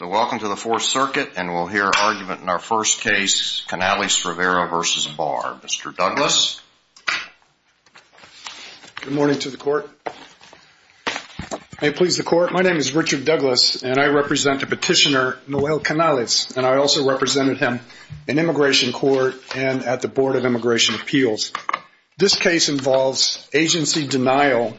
Welcome to the Fourth Circuit and we'll hear argument in our first case, Canales-Rivera v. Barr. Mr. Douglas. Good morning to the court. May it please the court, my name is Richard Douglas and I represent the petitioner Noel Canales. I also represented him in immigration court and at the Board of Immigration Appeals. This case involves agency denial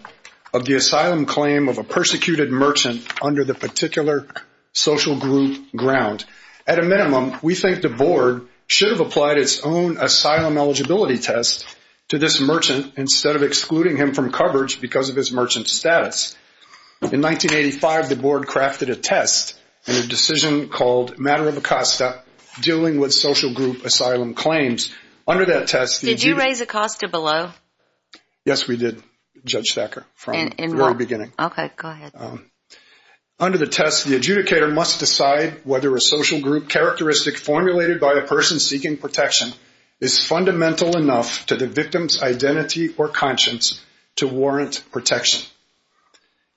of the asylum claim of a persecuted merchant under the particular social group ground. At a minimum, we think the board should have applied its own asylum eligibility test to this merchant instead of excluding him from coverage because of his merchant status. In 1985, the board crafted a test and a decision called matter of Acosta dealing with social group asylum claims. Did you raise Acosta below? Yes, we did, Judge Thacker, from the very beginning. Under the test, the adjudicator must decide whether a social group characteristic formulated by a person seeking protection is fundamental enough to the victim's identity or conscience to warrant protection.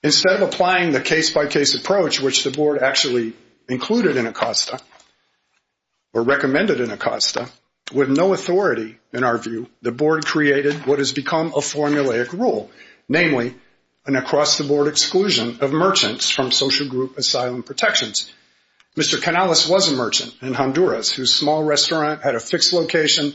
Instead of applying the case-by-case approach which the board actually included in Acosta or recommended in Acosta, with no authority in our view, the board created what has become a formulaic rule, namely, an across-the-board exclusion of merchants from social group asylum protections. Mr. Canales was a merchant in Honduras whose small restaurant had a fixed location,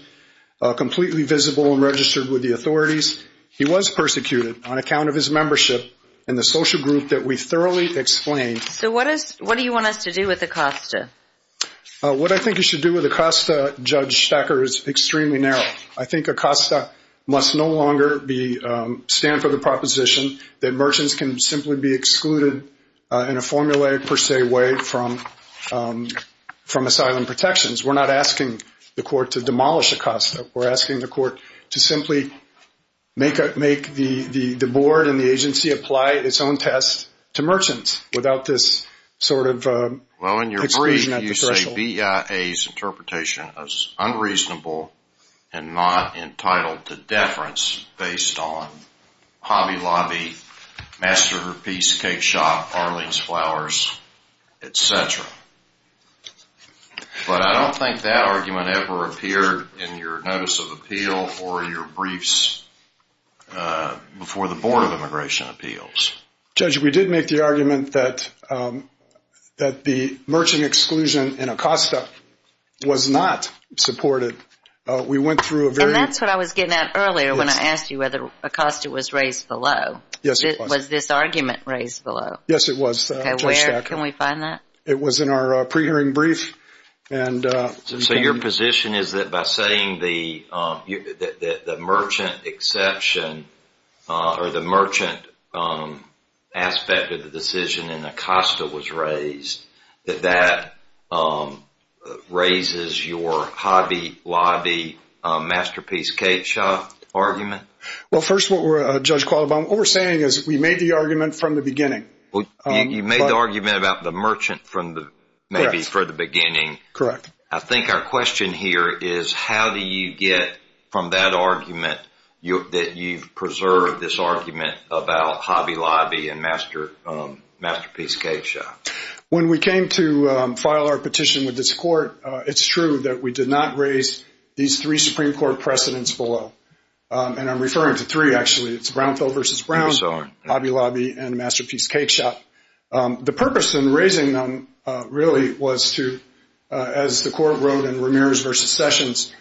completely visible and registered with the authorities. He was persecuted on account of his membership in the social group that we thoroughly explained. So what do you want us to do with Acosta? What I think you should do with Acosta, Judge Thacker, is extremely narrow. I think Acosta must no longer stand for the proposition that merchants can simply be excluded in a formulaic per se way from asylum protections. We're not asking the court to demolish Acosta. We're asking the court to simply make the board and the agency apply its own test to merchants without this sort of exclusion at the threshold. You say BIA's interpretation is unreasonable and not entitled to deference based on Hobby Lobby, Masterpiece Cake Shop, Arlene's Flowers, etc. But I don't think that argument ever appeared in your notice of appeal or your briefs before the Board of Immigration Appeals. Judge, we did make the argument that the merchant exclusion in Acosta was not supported. And that's what I was getting at earlier when I asked you whether Acosta was raised below. Yes, it was. Was this argument raised below? Yes, it was, Judge Thacker. Can we find that? It was in our pre-hearing brief. So your position is that by saying the merchant exception or the merchant aspect of the decision in Acosta was raised, that that raises your Hobby Lobby, Masterpiece Cake Shop argument? Well, first, Judge Qualivam, what we're saying is we made the argument from the beginning. You made the argument about the merchant maybe from the beginning. Correct. I think our question here is how do you get from that argument that you've preserved this argument about Hobby Lobby and Masterpiece Cake Shop? When we came to file our petition with this court, it's true that we did not raise these three Supreme Court precedents below. And I'm referring to three, actually. It's Brownfield v. Brown, Hobby Lobby, and Masterpiece Cake Shop. The purpose in raising them really was to, as the court wrote in Ramirez v. Sessions,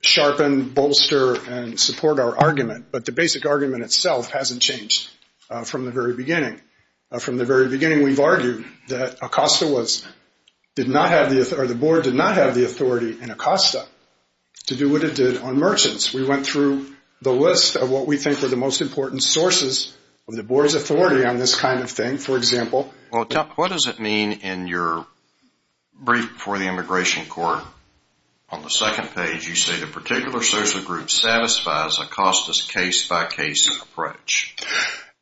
sharpen, bolster, and support our argument. But the basic argument itself hasn't changed from the very beginning. We've argued that Acosta was – or the board did not have the authority in Acosta to do what it did on merchants. We went through the list of what we think were the most important sources of the board's authority on this kind of thing. For example – Well, what does it mean in your brief before the immigration court? On the second page, you say the particular social group satisfies Acosta's case-by-case approach.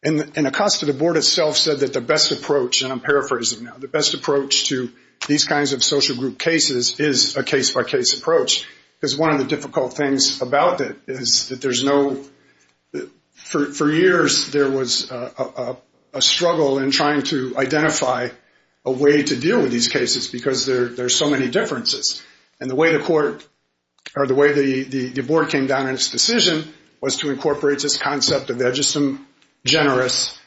And Acosta, the board itself, said that the best approach – and I'm paraphrasing now – the best approach to these kinds of social group cases is a case-by-case approach. Because one of the difficult things about it is that there's no – for years, there was a struggle in trying to identify a way to deal with these cases because there are so many differences. And the way the court – or the way the board came down in its decision was to incorporate this concept of the edgesome, generous,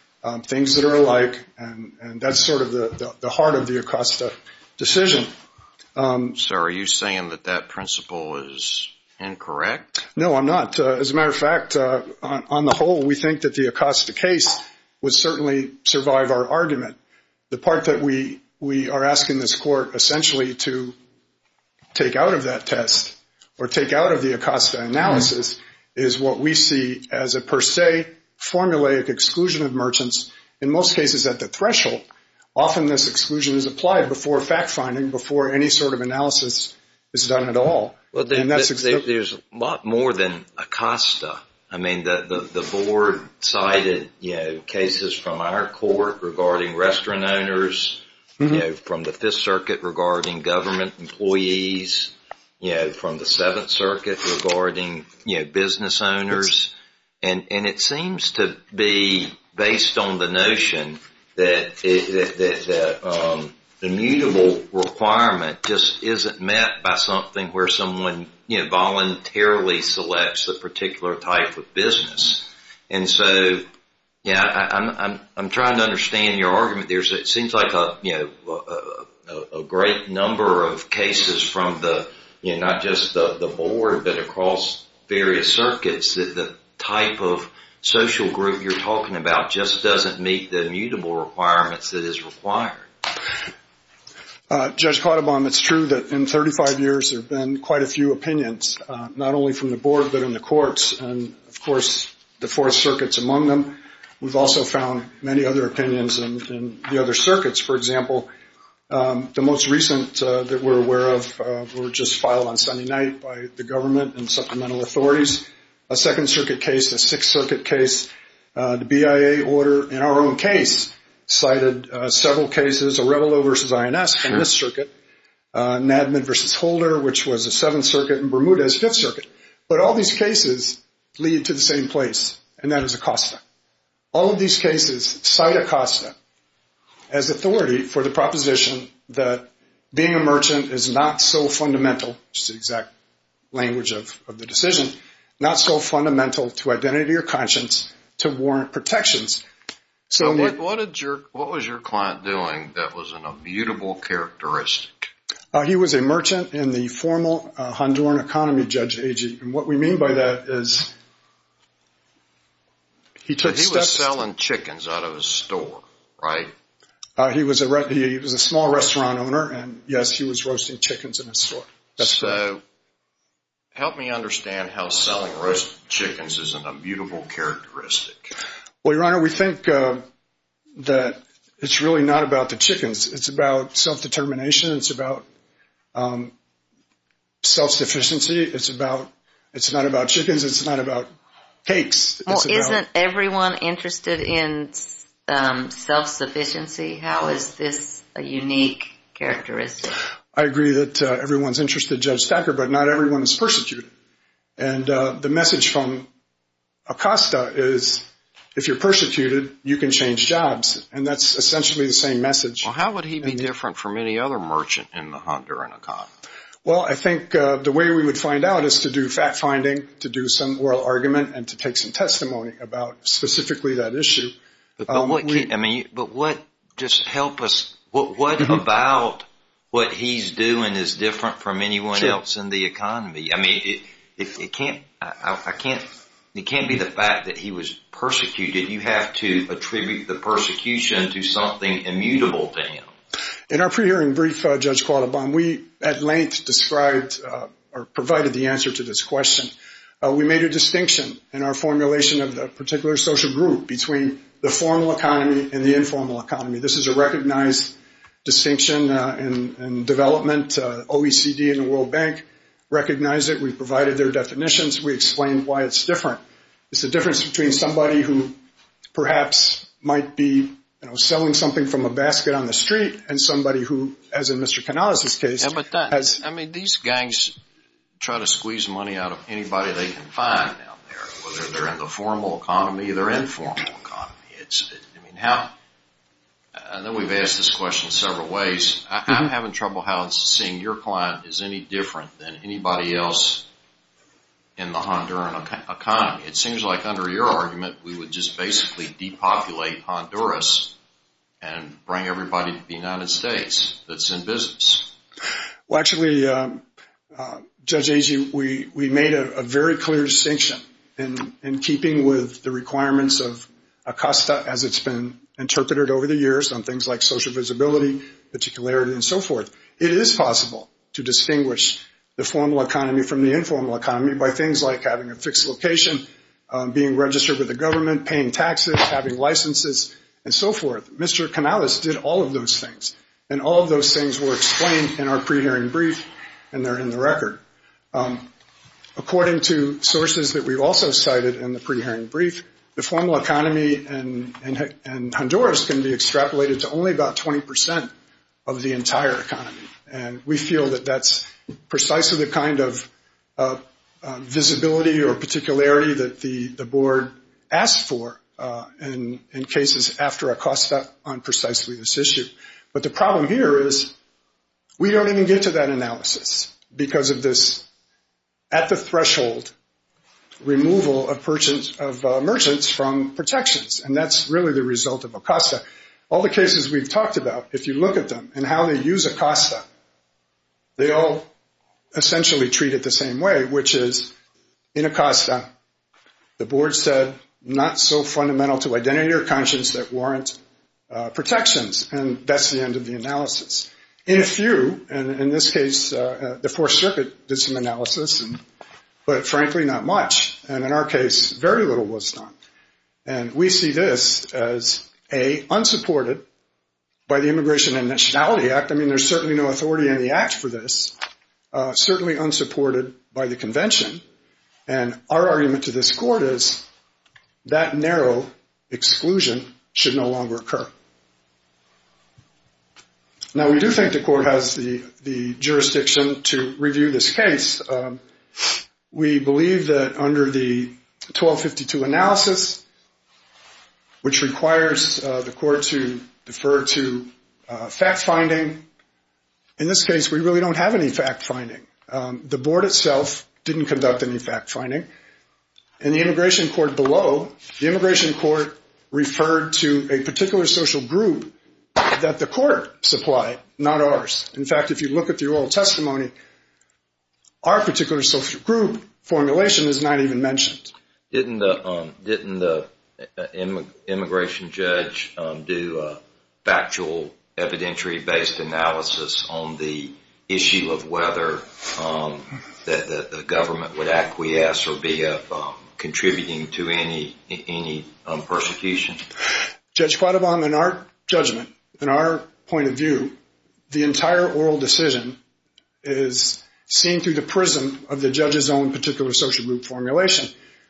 things that are alike. And that's sort of the heart of the Acosta decision. So are you saying that that principle is incorrect? No, I'm not. As a matter of fact, on the whole, we think that the Acosta case would certainly survive our argument. The part that we are asking this court essentially to take out of that test or take out of the Acosta analysis is what we see as a per se, formulaic exclusion of merchants. In most cases at the threshold, often this exclusion is applied before fact-finding, before any sort of analysis is done at all. There's a lot more than Acosta. I mean, the board cited cases from our court regarding restaurant owners, from the Fifth Circuit regarding government employees, from the Seventh Circuit regarding business owners. And it seems to be based on the notion that the mutable requirement just isn't met by something where someone voluntarily selects a particular type of business. And so, yeah, I'm trying to understand your argument there. It seems like a great number of cases from not just the board but across various circuits that the type of social group you're talking about just doesn't meet the mutable requirements that is required. Judge Cautabon, it's true that in 35 years there have been quite a few opinions, not only from the board but in the courts, and, of course, the Fourth Circuit's among them. We've also found many other opinions in the other circuits. For example, the most recent that we're aware of were just filed on Sunday night by the government and supplemental authorities, a Second Circuit case, a Sixth Circuit case. The BIA order in our own case cited several cases, Arevalo v. INS in this circuit, Nadman v. Holder, which was the Seventh Circuit, and Bermudez, Fifth Circuit. But all these cases lead to the same place, and that is Acosta. All of these cases cite Acosta as authority for the proposition that being a merchant is not so fundamental, which is the exact language of the decision, not so fundamental to identity or conscience to warrant protections. So what was your client doing that was a mutable characteristic? He was a merchant in the formal Honduran economy, Judge Agee. And what we mean by that is he took steps to… He was selling chickens out of his store, right? He was a small restaurant owner, and, yes, he was roasting chickens in his store. So help me understand how selling roasted chickens isn't a mutable characteristic. Well, Your Honor, we think that it's really not about the chickens. It's about self-determination. It's about self-sufficiency. It's about… It's not about chickens. It's not about cakes. Well, isn't everyone interested in self-sufficiency? How is this a unique characteristic? I agree that everyone's interested, Judge Thacker, but not everyone is persecuted. And the message from Acosta is if you're persecuted, you can change jobs. And that's essentially the same message. Well, how would he be different from any other merchant in the Honduran economy? Well, I think the way we would find out is to do fact-finding, to do some oral argument, and to take some testimony about specifically that issue. But what about what he's doing is different from anyone else in the economy? I mean, it can't be the fact that he was persecuted. You have to attribute the persecution to something immutable to him. In our pre-hearing brief, Judge Qualabong, we at length described or provided the answer to this question. We made a distinction in our formulation of the particular social group between the formal economy and the informal economy. This is a recognized distinction in development. OECD and the World Bank recognize it. We provided their definitions. We explained why it's different. It's the difference between somebody who perhaps might be selling something from a basket on the street and somebody who, as in Mr. Canales' case, has – whether they're in the formal economy or the informal economy. I mean, how – and then we've asked this question several ways. I'm having trouble how seeing your client is any different than anybody else in the Honduran economy. It seems like under your argument, we would just basically depopulate Honduras and bring everybody to the United States that's in business. Well, actually, Judge Agee, we made a very clear distinction in keeping with the requirements of ACOSTA, as it's been interpreted over the years on things like social visibility, particularity, and so forth. It is possible to distinguish the formal economy from the informal economy by things like having a fixed location, being registered with the government, paying taxes, having licenses, and so forth. Mr. Canales did all of those things, and all of those things were explained in our pre-hearing brief, and they're in the record. According to sources that we've also cited in the pre-hearing brief, the formal economy in Honduras can be extrapolated to only about 20 percent of the entire economy, and we feel that that's precisely the kind of visibility or particularity that the board asked for in cases after ACOSTA on precisely this issue. But the problem here is we don't even get to that analysis because of this at-the-threshold removal of merchants from protections, and that's really the result of ACOSTA. All the cases we've talked about, if you look at them and how they use ACOSTA, they all essentially treat it the same way, which is in ACOSTA, the board said, not so fundamental to identity or conscience that warrant protections, and that's the end of the analysis. In a few, and in this case, the Fourth Circuit did some analysis, but frankly, not much, and in our case, very little was done. And we see this as, A, unsupported by the Immigration and Nationality Act. I mean, there's certainly no authority in the act for this, certainly unsupported by the convention, and our argument to this court is that narrow exclusion should no longer occur. Now, we do think the court has the jurisdiction to review this case. We believe that under the 1252 analysis, which requires the court to defer to fact-finding, in this case, we really don't have any fact-finding. The board itself didn't conduct any fact-finding, and the immigration court below, the immigration court referred to a particular social group that the court supplied, not ours. In fact, if you look at the oral testimony, our particular social group formulation is not even mentioned. Didn't the immigration judge do a factual evidentiary-based analysis on the issue of whether the government would acquiesce or be of contributing to any persecution? Judge Quadovong, in our judgment, in our point of view, the entire oral decision is seen through the prism of the judge's own particular social group formulation,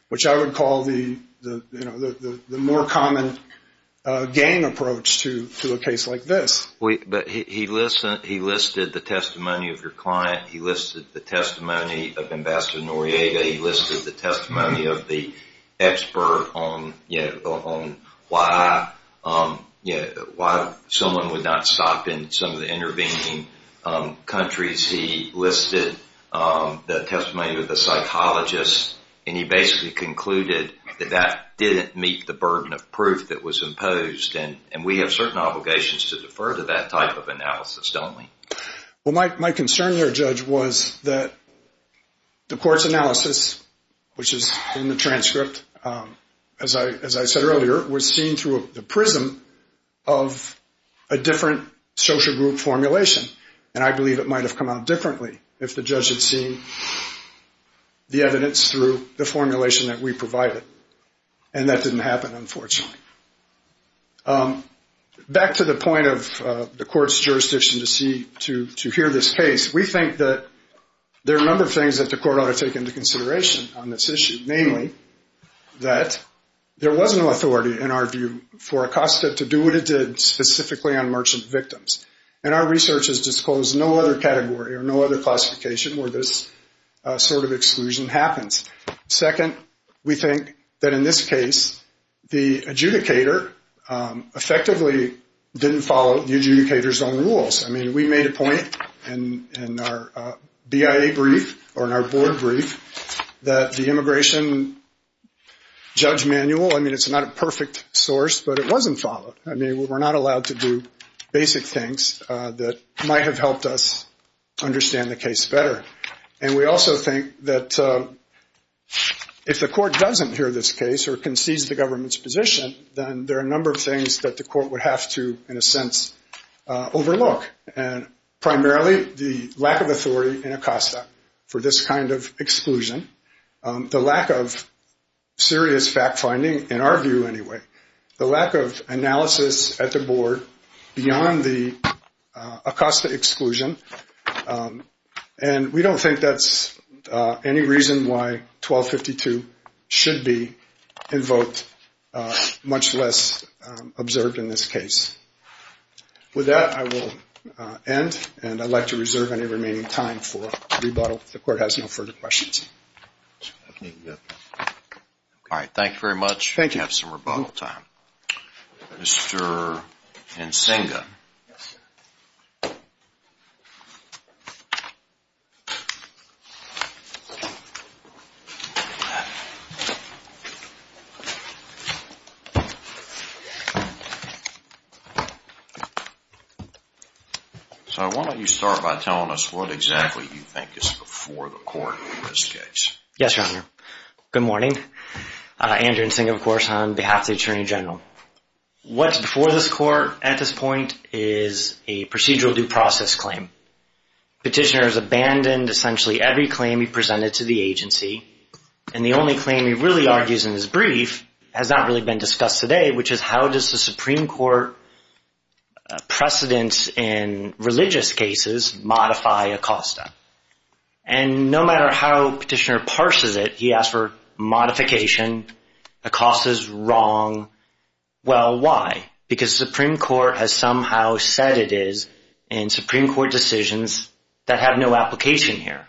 which I would call the more common game approach to a case like this. But he listed the testimony of your client. He listed the testimony of Ambassador Noriega. He listed the testimony of the expert on why someone would not stop in some of the intervening countries. He listed the testimony of the psychologist, and he basically concluded that that didn't meet the burden of proof that was imposed, and we have certain obligations to defer to that type of analysis, don't we? Well, my concern here, Judge, was that the court's analysis, which is in the transcript, as I said earlier, was seen through the prism of a different social group formulation, and I believe it might have come out differently if the judge had seen the evidence through the formulation that we provided, and that didn't happen, unfortunately. Back to the point of the court's jurisdiction to hear this case, we think that there are a number of things that the court ought to take into consideration on this issue, namely that there was no authority, in our view, for ACOSTA to do what it did specifically on merchant victims, and our research has disclosed no other category or no other classification where this sort of exclusion happens. Second, we think that in this case, the adjudicator effectively didn't follow the adjudicator's own rules. I mean, we made a point in our BIA brief or in our board brief that the immigration judge manual, I mean, it's not a perfect source, but it wasn't followed. I mean, we're not allowed to do basic things that might have helped us understand the case better, and we also think that if the court doesn't hear this case or concedes the government's position, then there are a number of things that the court would have to, in a sense, overlook, and primarily the lack of authority in ACOSTA for this kind of exclusion, the lack of serious fact-finding, in our view, anyway, the lack of analysis at the board beyond the ACOSTA exclusion, and we don't think that's any reason why 1252 should be invoked, much less observed in this case. With that, I will end, and I'd like to reserve any remaining time for rebuttal if the court has no further questions. All right, thank you very much. Thank you. We have some rebuttal time. Mr. Nsinga. Yes, sir. So why don't you start by telling us what exactly you think is before the court in this case? Yes, Your Honor. Good morning. Andrew Nsinga, of course, on behalf of the Attorney General. What's before this court at this point is a procedural due process. This is a procedural due process. Petitioner has abandoned essentially every claim he presented to the agency, and the only claim he really argues in his brief has not really been discussed today, which is how does the Supreme Court precedence in religious cases modify ACOSTA? And no matter how Petitioner parses it, he asks for modification. ACOSTA is wrong. Well, why? Because the Supreme Court has somehow said it is in Supreme Court decisions that have no application here.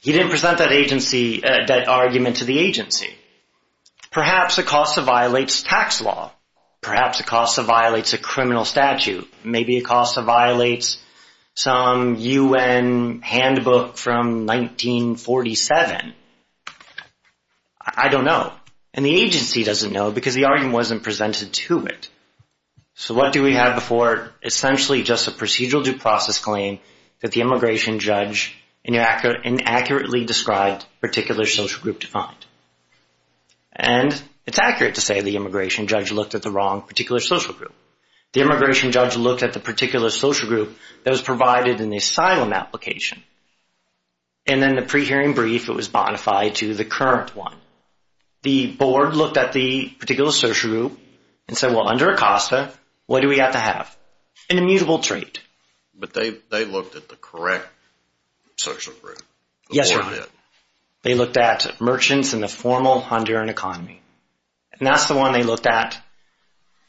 He didn't present that argument to the agency. Perhaps ACOSTA violates tax law. Perhaps ACOSTA violates a criminal statute. Maybe ACOSTA violates some U.N. handbook from 1947. I don't know. And the agency doesn't know because the argument wasn't presented to it. So what do we have before essentially just a procedural due process claim that the immigration judge inaccurately described a particular social group to find? And it's accurate to say the immigration judge looked at the wrong particular social group. The immigration judge looked at the particular social group that was provided in the asylum application, and then the pre-hearing brief, it was modified to the current one. The board looked at the particular social group and said, well, under ACOSTA, what do we have to have? An immutable trait. But they looked at the correct social group. Yes, sir. They looked at merchants in the formal Honduran economy. And that's the one they looked at.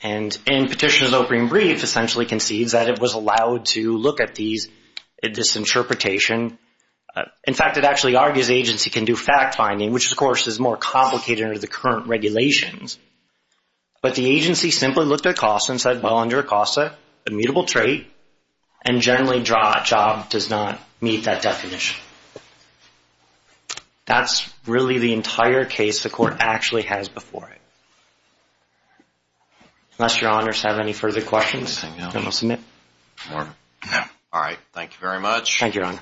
And in Petitioner's opening brief essentially concedes that it was allowed to look at this interpretation. In fact, it actually argues the agency can do fact-finding, which of course is more complicated under the current regulations. But the agency simply looked at ACOSTA and said, well, under ACOSTA, immutable trait, and generally job does not meet that definition. That's really the entire case the court actually has before it. Unless your honors have any further questions, then I'll submit. All right. Thank you very much. Thank you, Your Honor.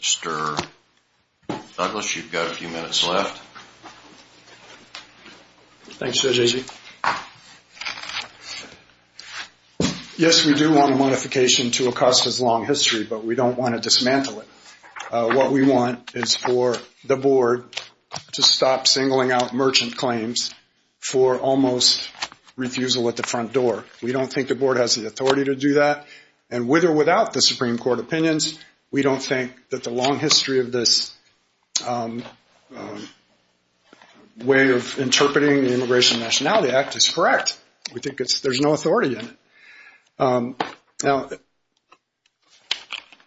Mr. Douglas, you've got a few minutes left. Thanks, Judge Agee. Yes, we do want a modification to ACOSTA's long history, but we don't want to dismantle it. What we want is for the board to stop singling out merchant claims for almost refusal at the front door. We don't think the board has the authority to do that. And with or without the Supreme Court opinions, we don't think that the long history of this way of interpreting the Immigration and Nationality Act is correct. We think there's no authority in it. Now,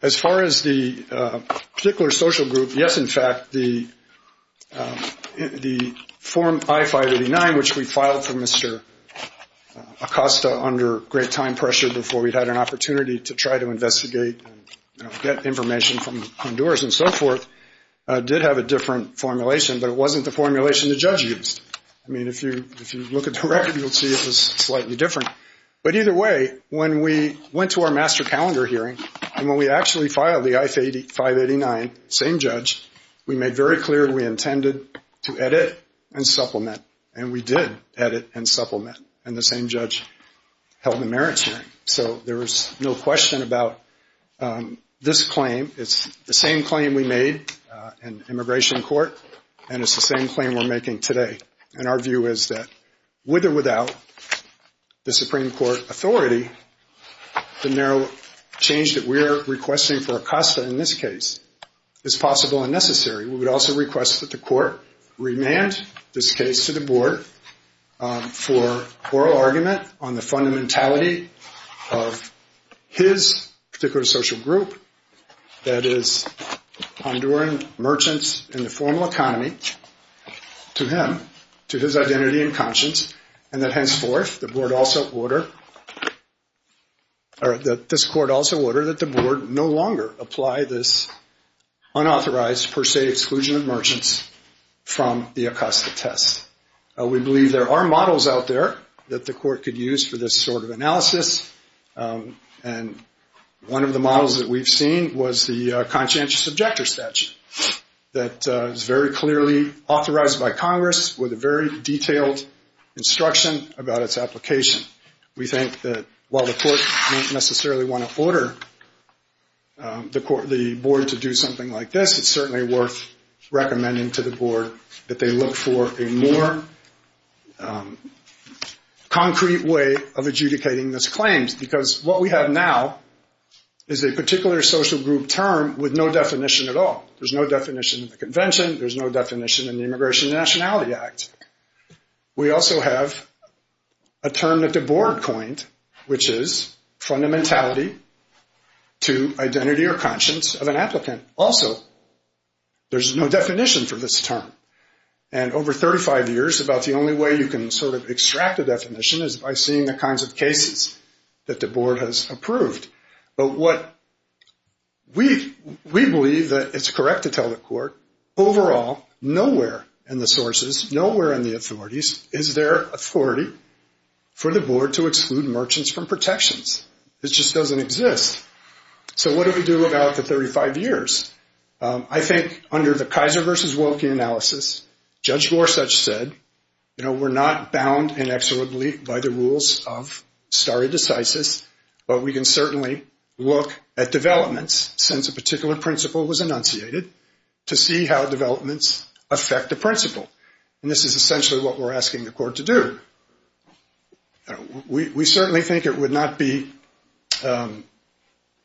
as far as the particular social group, yes, in fact, the form I-589, which we filed for Mr. ACOSTA under great time pressure before we had an opportunity to try to investigate and get information from Honduras and so forth, did have a different formulation, but it wasn't the formulation the judge used. I mean, if you look at the record, you'll see it was slightly different. But either way, when we went to our master calendar hearing and when we actually filed the I-589, same judge, we made very clear we intended to edit and supplement, and we did edit and supplement, and the same judge held the merits hearing. So there was no question about this claim. It's the same claim we made in immigration court, and it's the same claim we're making today. And our view is that with or without the Supreme Court authority, the narrow change that we're requesting for ACOSTA in this case is possible and necessary. We would also request that the court remand this case to the board for oral argument on the fundamentality of his particular social group, that is, Honduran merchants in the formal economy, to him, to his identity and conscience, and that henceforth the board also order, or that this court also order that the board no longer apply this unauthorized, per se exclusion of merchants from the ACOSTA test. We believe there are models out there that the court could use for this sort of analysis, and one of the models that we've seen was the conscientious objector statute that is very clearly authorized by Congress with a very detailed instruction about its application. We think that while the court may not necessarily want to order the board to do something like this, it's certainly worth recommending to the board that they look for a more concrete way of adjudicating this claim, because what we have now is a particular social group term with no definition at all. There's no definition in the convention. There's no definition in the Immigration and Nationality Act. We also have a term that the board coined, which is fundamentality to identity or conscience of an applicant. Also, there's no definition for this term, and over 35 years about the only way you can sort of extract a definition is by seeing the kinds of cases that the board has approved. But what we believe that it's correct to tell the court, overall, nowhere in the sources, nowhere in the authorities, is there authority for the board to exclude merchants from protections. It just doesn't exist. So what do we do about the 35 years? I think under the Kaiser versus Woelke analysis, Judge Gorsuch said, you know, we're not bound inexorably by the rules of stare decisis, but we can certainly look at developments, since a particular principle was enunciated, to see how developments affect the principle. And this is essentially what we're asking the court to do. We certainly think it would not be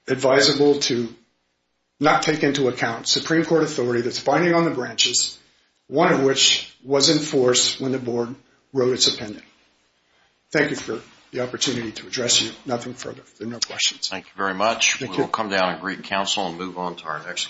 advisable to not take into account Supreme Court authority that's binding on the branches, one of which was in force when the board wrote its appendix. Thank you for the opportunity to address you. Nothing further. There are no questions. Thank you very much. We will come down and greet counsel and move on to our next case.